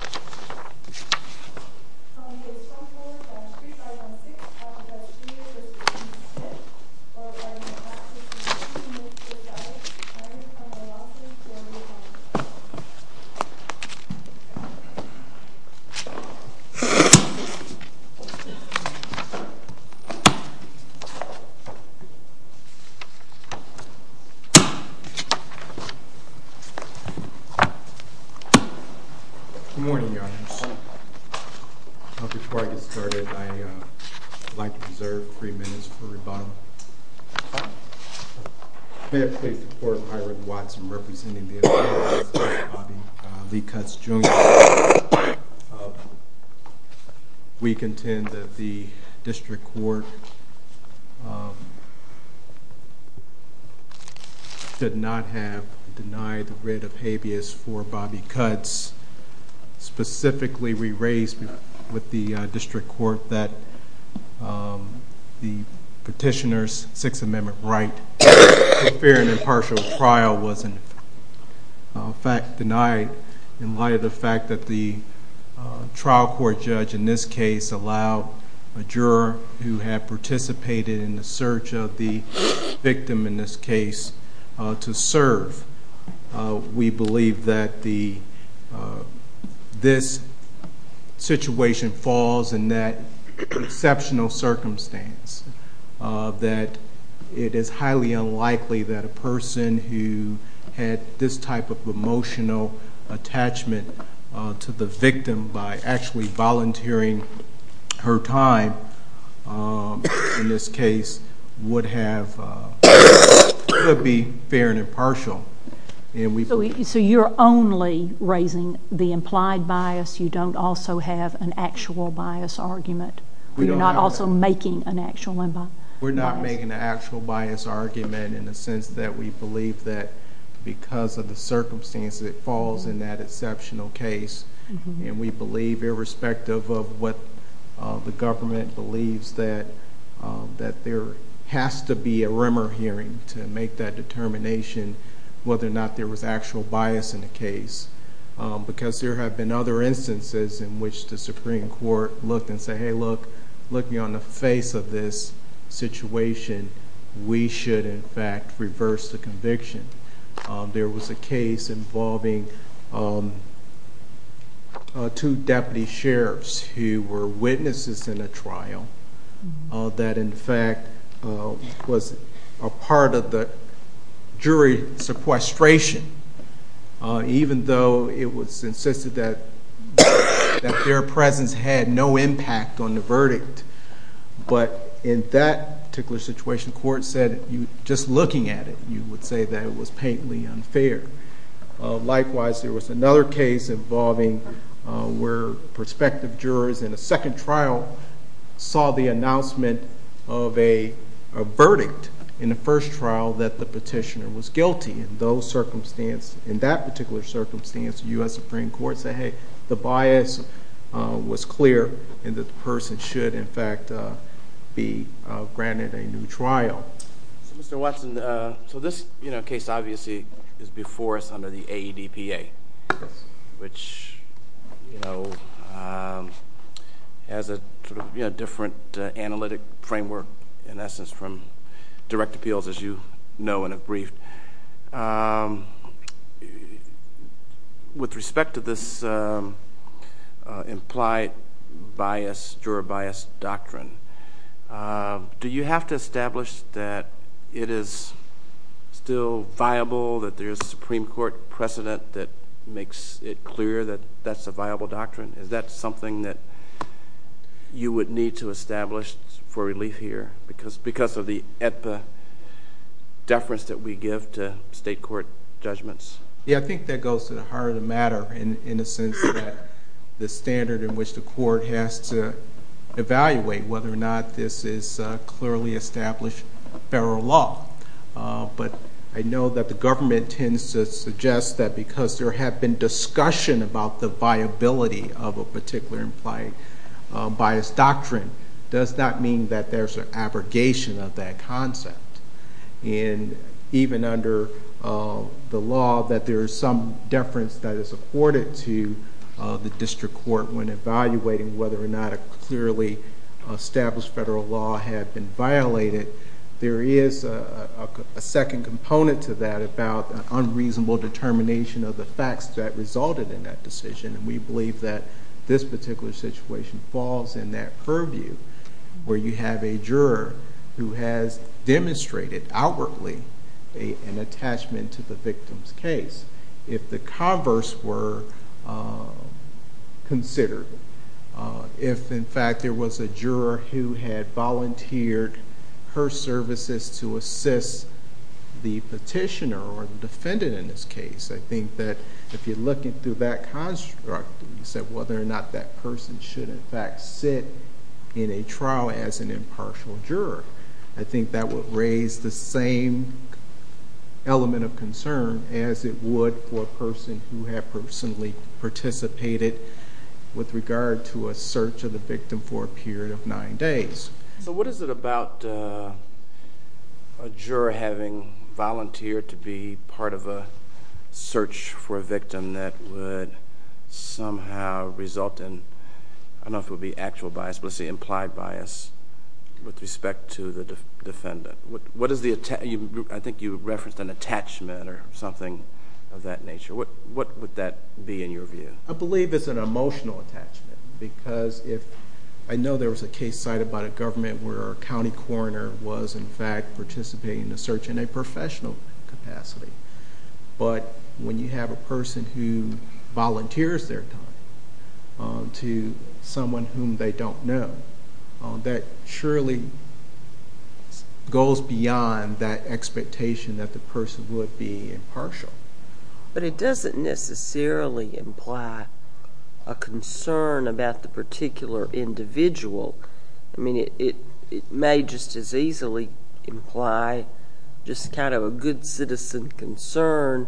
On the baseball court, on Street 516, on the bench, Keith, v. Keith Smith, while riding a fast-paced machine, he makes his dive, trying to find the losses for the opponent. Good morning, Your Honors. Before I get started, I'd like to reserve three minutes for rebuttal. May it please the Court, Myron Watson representing the Appeals Court for Bobby Lee Cutts Jr. We contend that the District Court should not have denied the writ of habeas for Bobby Cutts. Specifically, we raised with the District Court that the petitioner's Sixth Amendment right for fair and impartial trial was denied in light of the fact that the trial court judge in this case allowed a juror who had participated in the search of the victim in this case to serve. We believe that this situation falls in that exceptional circumstance, that it is highly unlikely that a person who had this type of emotional attachment to the victim by actually volunteering her time in this case would be fair and impartial. So you're only raising the implied bias, you don't also have an actual bias argument? You're not also making an actual bias argument? We're not making an actual bias argument in the sense that we believe that because of the circumstance it falls in that exceptional case, and we believe irrespective of what the government believes that there has to be a rumor hearing to make that determination whether or not there was actual bias in the case. Because there have been other instances in which the Supreme Court looked and said, hey look, looking on the face of this situation, we should in fact reverse the conviction. There was a case involving two deputy sheriffs who were witnesses in a trial that in fact was a part of the jury sequestration, even though it was insisted that their presence had no impact on the verdict. But in that particular situation, the court said just looking at it, you would say that it was painfully unfair. Likewise, there was another case involving where prospective jurors in a second trial saw the announcement of a verdict in the first trial that the petitioner was guilty. In that particular circumstance, the U.S. Supreme Court said, hey, the bias was clear and the person should in fact be granted a new trial. Mr. Watson, so this case obviously is before us under the AEDPA, which has a different analytic framework in essence from direct appeals as you know and have briefed. With respect to this implied bias, juror bias doctrine, do you have to establish that it is still viable that there is a Supreme Court precedent that makes it clear that that's a viable doctrine? Is that something that you would need to establish for relief here because of the AEDPA deference that we give to state court judgments? Yeah, I think that goes to the heart of the matter in a sense that the standard in which the court has to evaluate whether or not this is clearly established federal law. But I know that the government tends to suggest that because there have been discussion about the viability of a particular implied bias doctrine does not mean that there's an abrogation of that concept. And even under the law that there is some deference that is afforded to the district court when evaluating whether or not a clearly established federal law had been violated, there is a second component to that about an unreasonable determination of the facts that resulted in that decision. And we believe that this particular situation falls in that purview where you have a juror who has demonstrated outwardly an attachment to the victim's case. If the converse were considered, if in fact there was a juror who had volunteered her services to assist the petitioner or the defendant in this case, I think that if you're looking through that construct and you said whether or not that person should in fact sit in a trial as an impartial juror, I think that would raise the same element of concern as it would for a person who had personally participated with regard to a search of the victim for a period of nine days. So what is it about a juror having volunteered to be part of a search for a victim that would somehow result in, I don't know if it would be actual bias, but let's say implied bias with respect to the defendant. I think you referenced an attachment or something of that nature. What would that be in your view? I believe it's an emotional attachment. Because I know there was a case cited by the government where a county coroner was in fact participating in a search in a professional capacity. But when you have a person who volunteers their time to someone whom they don't know, that surely goes beyond that expectation that the person would be impartial. But it doesn't necessarily imply a concern about the particular individual. I mean, it may just as easily imply just kind of a good citizen concern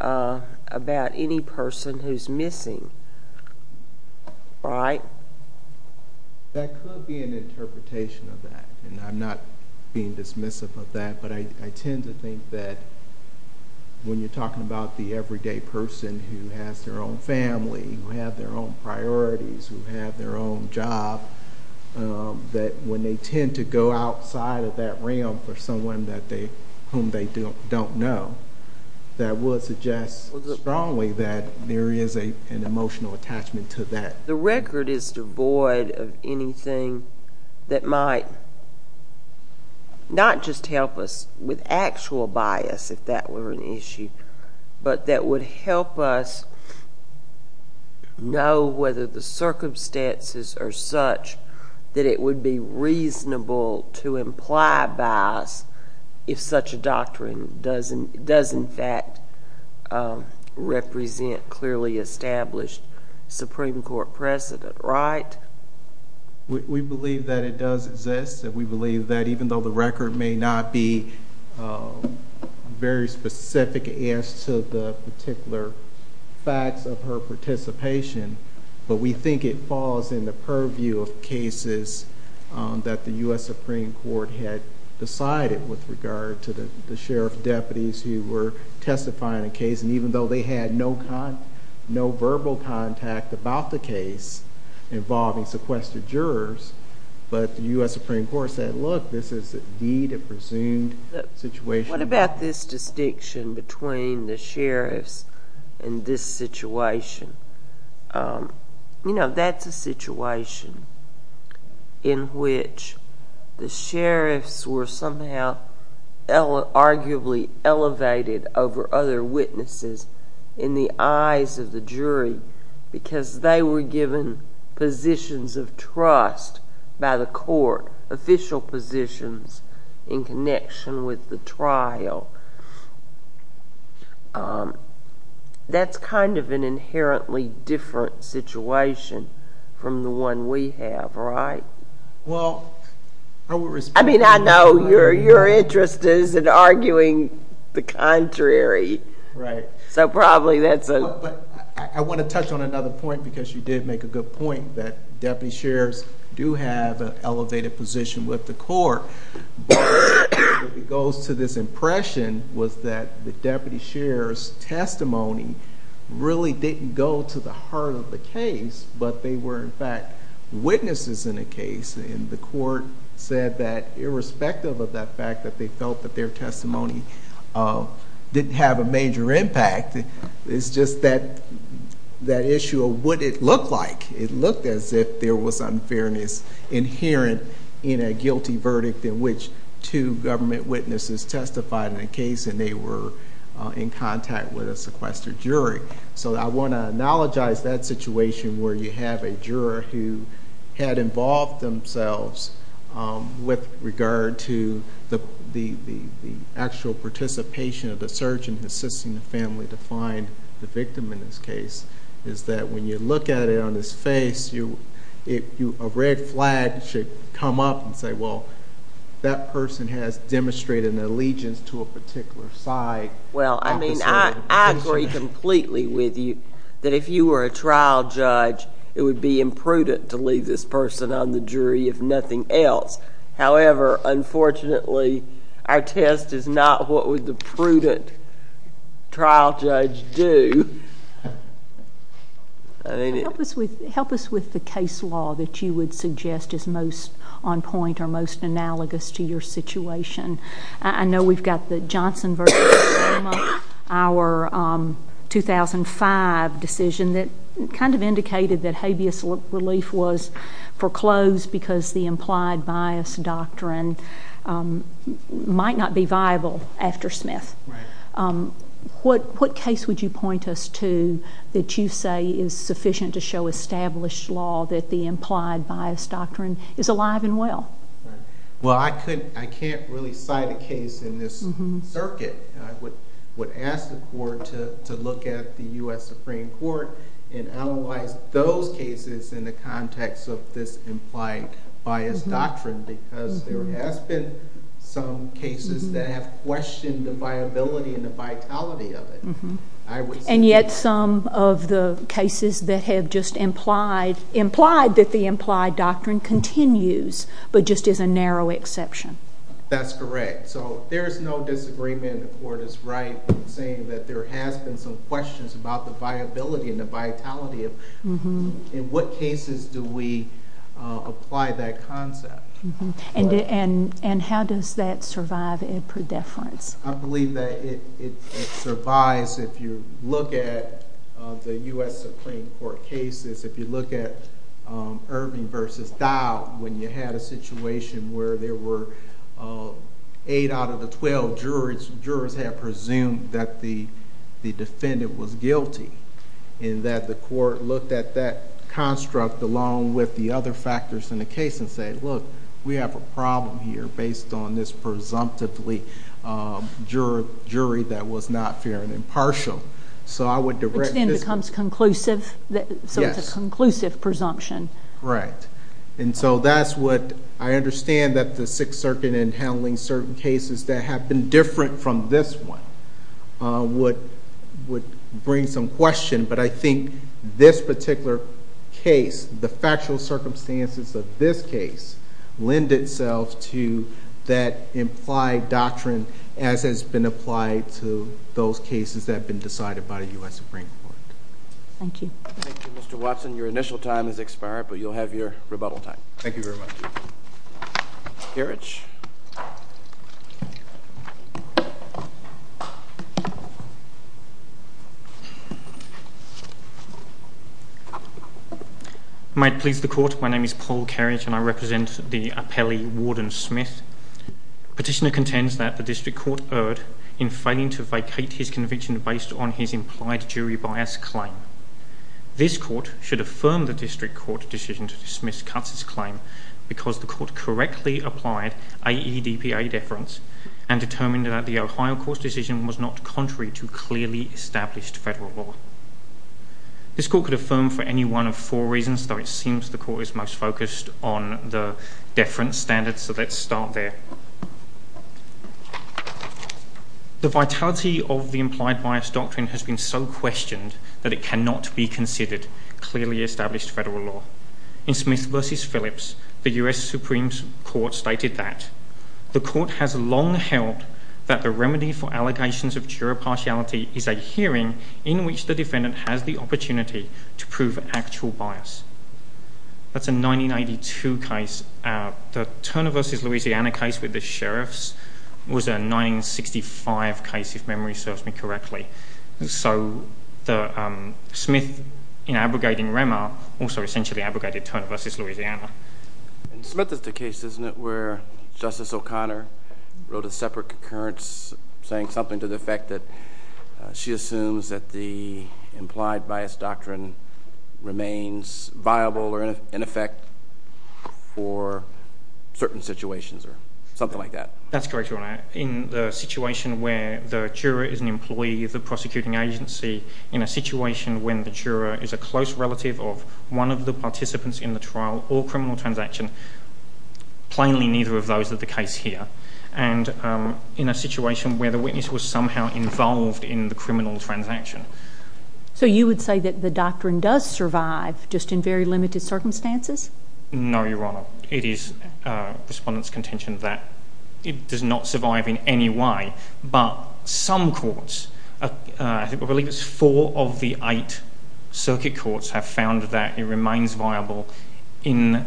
about any person who's missing, right? That could be an interpretation of that, and I'm not being dismissive of that. But I tend to think that when you're talking about the everyday person who has their own family, who have their own priorities, who have their own job, that when they tend to go outside of that realm for someone whom they don't know, that would suggest strongly that there is an emotional attachment to that. The record is devoid of anything that might not just help us with actual bias, if that were an issue, but that would help us know whether the circumstances are such that it would be reasonable to imply bias if such a doctrine does in fact represent clearly established Supreme Court precedent, right? We believe that it does exist, and we believe that even though the record may not be very specific as to the particular facts of her participation, but we think it falls in the purview of cases that the U.S. Supreme Court had decided with regard to the sheriff deputies who were testifying in a case, and even though they had no verbal contact about the case involving sequestered jurors, but the U.S. Supreme Court said, look, this is indeed a presumed situation. What about this distinction between the sheriffs and this situation? You know, that's a situation in which the sheriffs were somehow arguably elevated over other witnesses in the eyes of the jury because they were given positions of trust by the court, official positions in connection with the trial. That's kind of an inherently different situation from the one we have, right? Well, I would respond to that. I mean, I know your interest is in arguing the contrary. Right. So probably that's a— But I want to touch on another point because you did make a good point, that deputy sheriffs do have an elevated position with the court, but it goes to this impression was that the deputy sheriff's testimony really didn't go to the heart of the case, but they were, in fact, witnesses in a case, and the court said that irrespective of that fact that they felt that their testimony didn't have a major impact, it's just that issue of what it looked like. It looked as if there was unfairness inherent in a guilty verdict in which two government witnesses testified in a case and they were in contact with a sequestered jury. So I want to analogize that situation where you have a juror who had involved themselves with regard to the actual participation of the surgeon assisting the family to find the victim in this case, is that when you look at it on his face, a red flag should come up and say, well, that person has demonstrated an allegiance to a particular side. Well, I mean, I agree completely with you that if you were a trial judge, it would be imprudent to leave this person on the jury, if nothing else. However, unfortunately, our test is not what would the prudent trial judge do. Help us with the case law that you would suggest is most on point or most analogous to your situation. I know we've got the Johnson v. Obama, our 2005 decision that kind of indicated that habeas relief was foreclosed because the implied bias doctrine might not be viable after Smith. What case would you point us to that you say is sufficient to show established law that the implied bias doctrine is alive and well? Well, I can't really cite a case in this circuit. I would ask the court to look at the U.S. Supreme Court and analyze those cases in the context of this implied bias doctrine because there has been some cases that have questioned the viability and the vitality of it. And yet some of the cases that have just implied that the implied doctrine continues, but just is a narrow exception. That's correct. So there is no disagreement. The court is right in saying that there has been some questions about the viability and the vitality of it. In what cases do we apply that concept? And how does that survive a pre-deference? I believe that it survives if you look at the U.S. Supreme Court cases, if you look at Irving v. Dow when you had a situation where there were 8 out of the 12 jurors had presumed that the defendant was guilty and that the court looked at that construct along with the other factors in the case and said, look, we have a problem here based on this presumptively jury that was not fair and impartial. Which then becomes conclusive. Yes. So it's a conclusive presumption. Right. And so that's what I understand that the Sixth Circuit in handling certain cases that have been different from this one would bring some question. But I think this particular case, the factual circumstances of this case lend itself to that implied doctrine as has been applied to those cases that have been decided by the U.S. Supreme Court. Thank you. Thank you, Mr. Watson. Your initial time has expired, but you'll have your rebuttal time. Thank you very much. Kerridge. May it please the Court, my name is Paul Kerridge and I represent the appellee, Warden Smith. Petitioner contends that the District Court erred in failing to vacate his conviction based on his implied jury bias claim. This Court should affirm the District Court decision to dismiss Cutts' claim because the Court correctly applied AEDPA deference and determined that the Ohio Court's decision was not contrary to clearly established federal law. This Court could affirm for any one of four reasons, though it seems the Court is most focused on the deference standard, so let's start there. The vitality of the implied bias doctrine has been so questioned that it cannot be considered clearly established federal law. In Smith v. Phillips, the U.S. Supreme Court stated that the Court has long held that the remedy for allegations of juror partiality is a hearing in which the defendant has the opportunity to prove actual bias. That's a 1982 case. The Turner v. Louisiana case with the sheriffs was a 1965 case, if memory serves me correctly. So, Smith in abrogating Rema also essentially abrogated Turner v. Louisiana. In Smith is the case, isn't it, where Justice O'Connor wrote a separate concurrence saying something to the effect that she assumes that the implied bias doctrine remains viable or in effect for certain situations or something like that? That's correct, Your Honor. In the situation where the juror is an employee of the prosecuting agency, in a situation when the juror is a close relative of one of the participants in the trial or criminal transaction, plainly neither of those are the case here. And in a situation where the witness was somehow involved in the criminal transaction. So you would say that the doctrine does survive just in very limited circumstances? No, Your Honor. It is Respondent's contention that it does not survive in any way, but some courts, I believe it's four of the eight circuit courts, have found that it remains viable in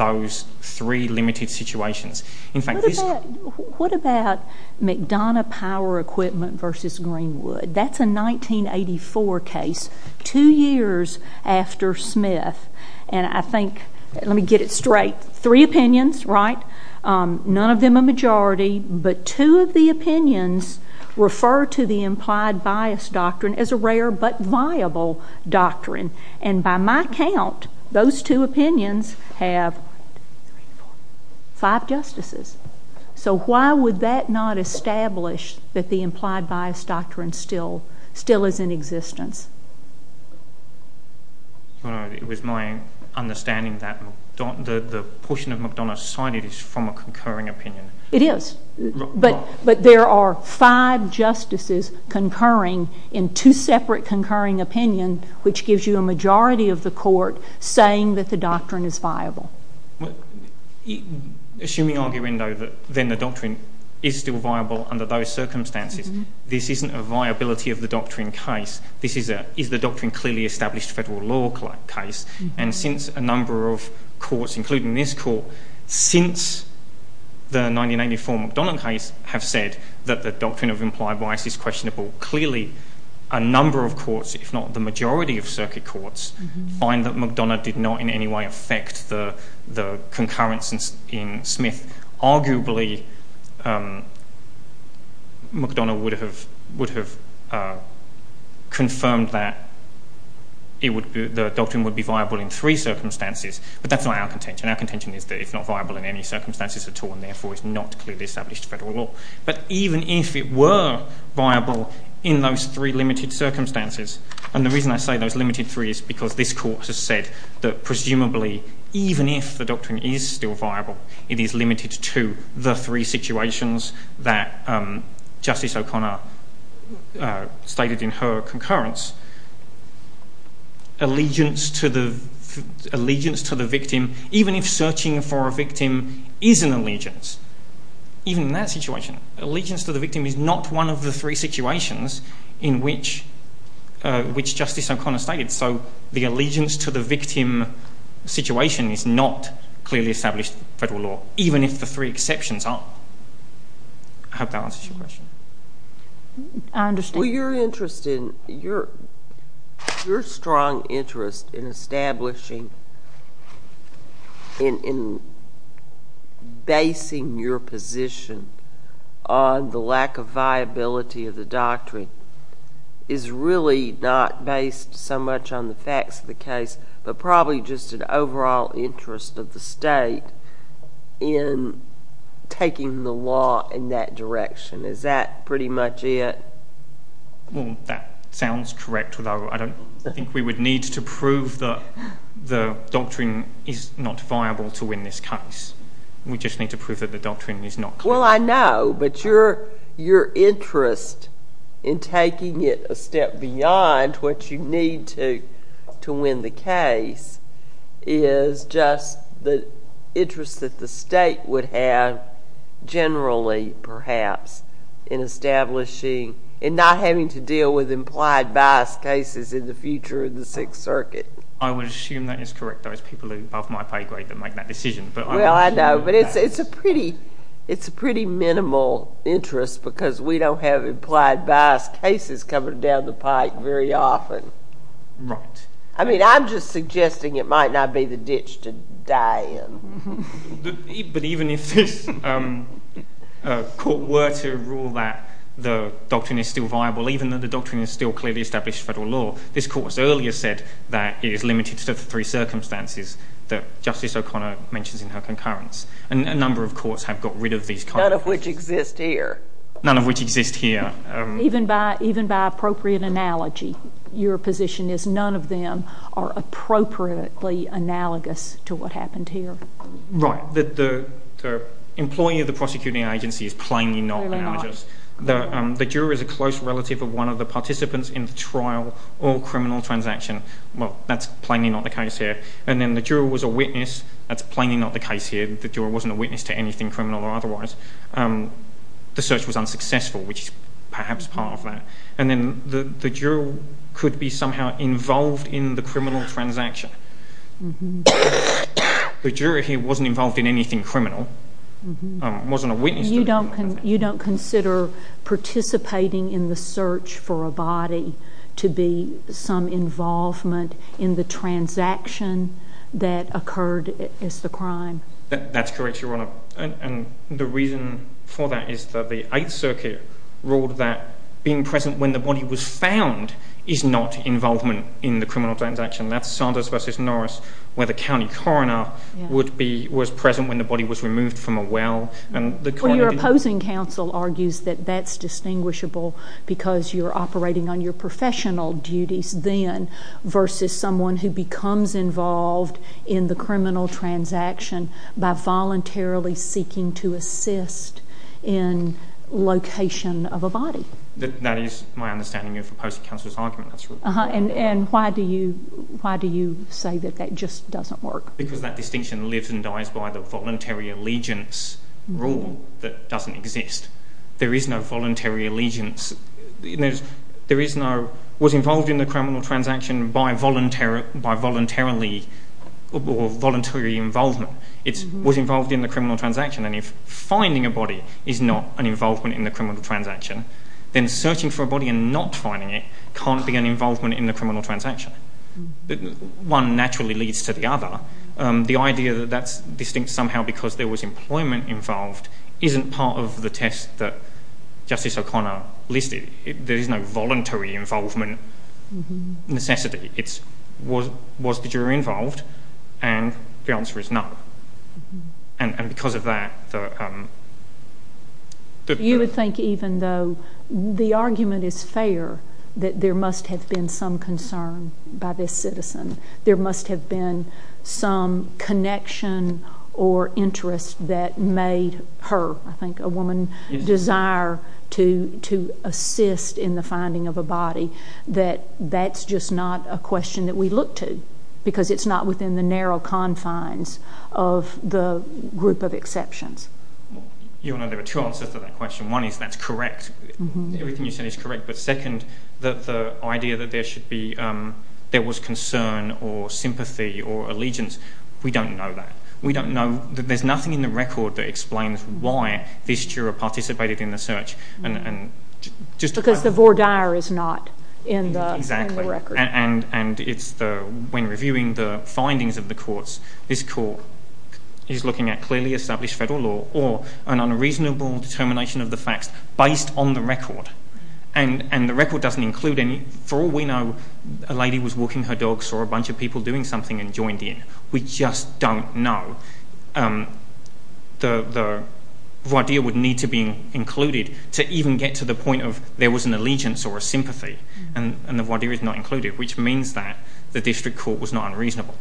those three limited situations. What about McDonough Power Equipment v. Greenwood? That's a 1984 case, two years after Smith. And I think, let me get it straight, three opinions, right? None of them a majority, but two of the opinions refer to the implied bias doctrine as a rare but viable doctrine. And by my count, those two opinions have five justices. So why would that not establish that the implied bias doctrine still is in existence? Your Honor, it was my understanding that the portion of McDonough cited is from a concurring opinion. It is. But there are five justices concurring in two separate concurring opinions, which gives you a majority of the court saying that the doctrine is viable. Assuming, arguendo, that then the doctrine is still viable under those circumstances, this isn't a viability of the doctrine case. This is the doctrine clearly established federal law case. And since a number of courts, including this court, since the 1984 McDonough case, have said that the doctrine of implied bias is questionable, clearly a number of courts, if not the majority of circuit courts, find that McDonough did not in any way affect the concurrence in Smith. Arguably, McDonough would have confirmed that the doctrine would be viable in three circumstances, but that's not our contention. Our contention is that it's not viable in any circumstances at all, and therefore it's not clearly established federal law. But even if it were viable in those three limited circumstances, and the reason I say those limited three is because this court has said that, even if the doctrine is still viable, it is limited to the three situations that Justice O'Connor stated in her concurrence. Allegiance to the victim, even if searching for a victim is an allegiance, even in that situation, allegiance to the victim is not one of the three situations in which Justice O'Connor stated. So the allegiance to the victim situation is not clearly established federal law, even if the three exceptions are. I hope that answers your question. I understand. Well, your strong interest in establishing, in basing your position on the lack of viability of the doctrine is really not based so much on the facts of the case, but probably just an overall interest of the state in taking the law in that direction. Is that pretty much it? Well, that sounds correct, although I don't think we would need to prove that the doctrine is not viable to win this case. We just need to prove that the doctrine is not. Well, I know, but your interest in taking it a step beyond what you need to win the case is just the interest that the state would have generally, perhaps, in establishing and not having to deal with implied bias cases in the future of the Sixth Circuit. I would assume that is correct, those people above my pay grade that make that decision. Well, I know, but it's a pretty minimal interest because we don't have implied bias cases coming down the pike very often. Right. I mean, I'm just suggesting it might not be the ditch to die in. But even if this Court were to rule that the doctrine is still viable, even though the doctrine is still clearly established federal law, this Court has earlier said that it is limited to the three circumstances that Justice O'Connor mentions in her concurrence. And a number of courts have got rid of these kinds of cases. None of which exist here. None of which exist here. Even by appropriate analogy, your position is none of them are appropriately analogous to what happened here. Right. The employee of the prosecuting agency is plainly not analogous. The juror is a close relative of one of the participants in the trial or criminal transaction. Well, that's plainly not the case here. And then the juror was a witness. That's plainly not the case here. The juror wasn't a witness to anything criminal or otherwise. The search was unsuccessful, which is perhaps part of that. And then the juror could be somehow involved in the criminal transaction. The juror here wasn't involved in anything criminal, wasn't a witness. You don't consider participating in the search for a body to be some involvement in the transaction that occurred as the crime? That's correct, Your Honor. And the reason for that is that the Eighth Circuit ruled that being present when the body was found is not involvement in the criminal transaction. That's Saunders v. Norris where the county coroner was present when the body was removed from a well. Well, your opposing counsel argues that that's distinguishable because you're operating on your professional duties then versus someone who becomes involved in the criminal transaction by voluntarily seeking to assist in location of a body. That is my understanding of opposing counsel's argument. And why do you say that that just doesn't work? Because that distinction lives and dies by the voluntary allegiance rule that doesn't exist. There is no voluntary allegiance. There is no, was involved in the criminal transaction by voluntarily or voluntary involvement. It was involved in the criminal transaction. And if finding a body is not an involvement in the criminal transaction, then searching for a body and not finding it can't be an involvement in the criminal transaction. One naturally leads to the other. The idea that that's distinct somehow because there was employment involved isn't part of the test that Justice O'Connor listed. There is no voluntary involvement necessity. It's was the jury involved and the answer is no. And because of that, the... You would think even though the argument is fair that there must have been some concern by this citizen, there must have been some connection or interest that made her, I think, a woman, desire to assist in the finding of a body that that's just not a question that we look to because it's not within the narrow confines of the group of exceptions. Your Honor, there are two answers to that question. One is that's correct. Everything you said is correct. But second, the idea that there should be, there was concern or sympathy or allegiance, we don't know that. We don't know. There's nothing in the record that explains why this juror participated in the search. Because the voir dire is not in the record. And when reviewing the findings of the courts, this court is looking at clearly established federal law or an unreasonable determination of the facts based on the record. And the record doesn't include any... For all we know, a lady was walking her dog, saw a bunch of people doing something and joined in. We just don't know. The voir dire would need to be included to even get to the point of there was an allegiance or a sympathy. And the voir dire is not included, which means that the district court was not unreasonable.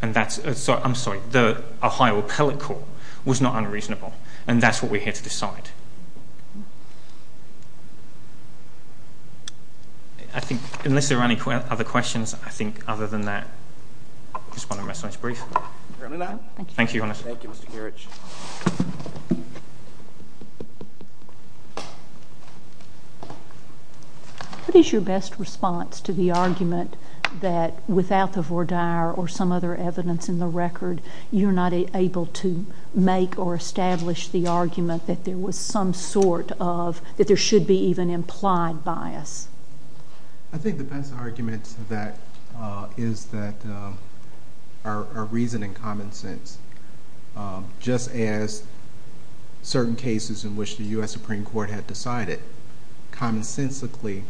And that's, I'm sorry, the Ohio Appellate Court was not unreasonable. And that's what we're here to decide. I think unless there are any other questions, I think other than that, I just want to rest on this brief. Thank you, Your Honor. Thank you, Mr. Gerich. What is your best response to the argument that without the voir dire or some other evidence in the record, you're not able to make or establish the argument that there was some sort of, that there should be even implied bias? I think the best argument to that is that our reason and common sense, just as certain cases in which the U.S. Supreme Court had decided, commonsensically,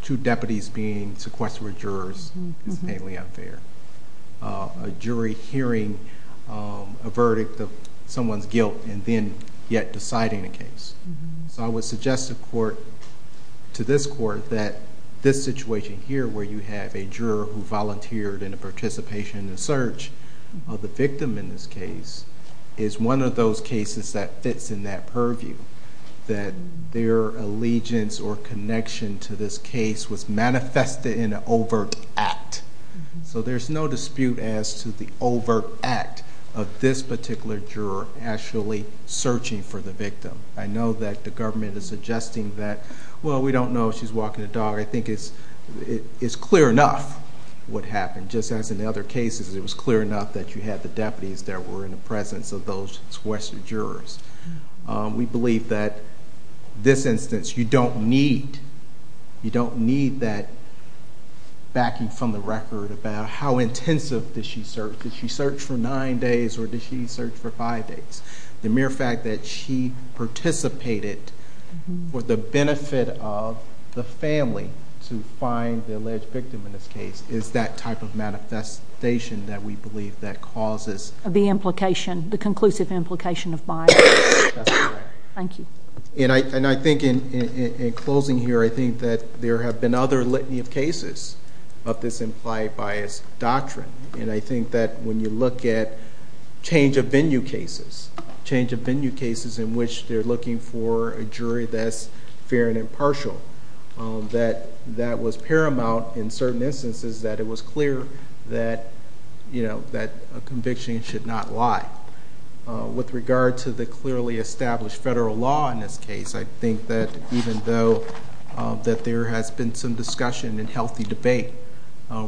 two deputies being sequestered jurors is plainly unfair. A jury hearing a verdict of someone's guilt and then yet deciding a case. So I would suggest to this court that this situation here, where you have a juror who volunteered in a participation in a search of the victim in this case, is one of those cases that fits in that purview. That their allegiance or connection to this case was manifested in an overt act. So there's no dispute as to the overt act of this particular juror actually searching for the victim. I know that the government is suggesting that, well, we don't know if she's walking the dog. I think it's clear enough what happened. Just as in the other cases, it was clear enough that you had the deputies that were in the presence of those sequestered jurors. We believe that this instance, you don't need that backing from the record about how intensive did she search. Did she search for nine days or did she search for five days? The mere fact that she participated for the benefit of the family to find the alleged victim in this case is that type of manifestation that we believe that causes. The implication, the conclusive implication of bias. That's correct. Thank you. And I think in closing here, I think that there have been other litany of cases of this implied bias doctrine. And I think that when you look at change of venue cases, change of venue cases in which they're looking for a jury that's fair and impartial, that that was paramount in certain instances that it was clear that a conviction should not lie. With regard to the clearly established federal law in this case, I think that even though that there has been some discussion and healthy debate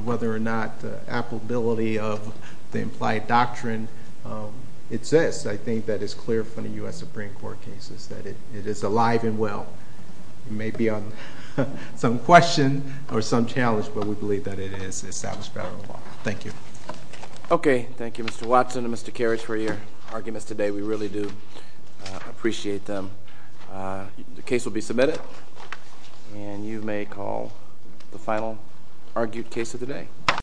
whether or not the applicability of the implied doctrine exists, I think that it's clear from the U.S. Supreme Court cases that it is alive and well. It may be on some question or some challenge, but we believe that it is established federal law. Thank you. Okay. Thank you, Mr. Watson and Mr. Karrasch, for your arguments today. We really do appreciate them. The case will be submitted, and you may call the final argued case of the day.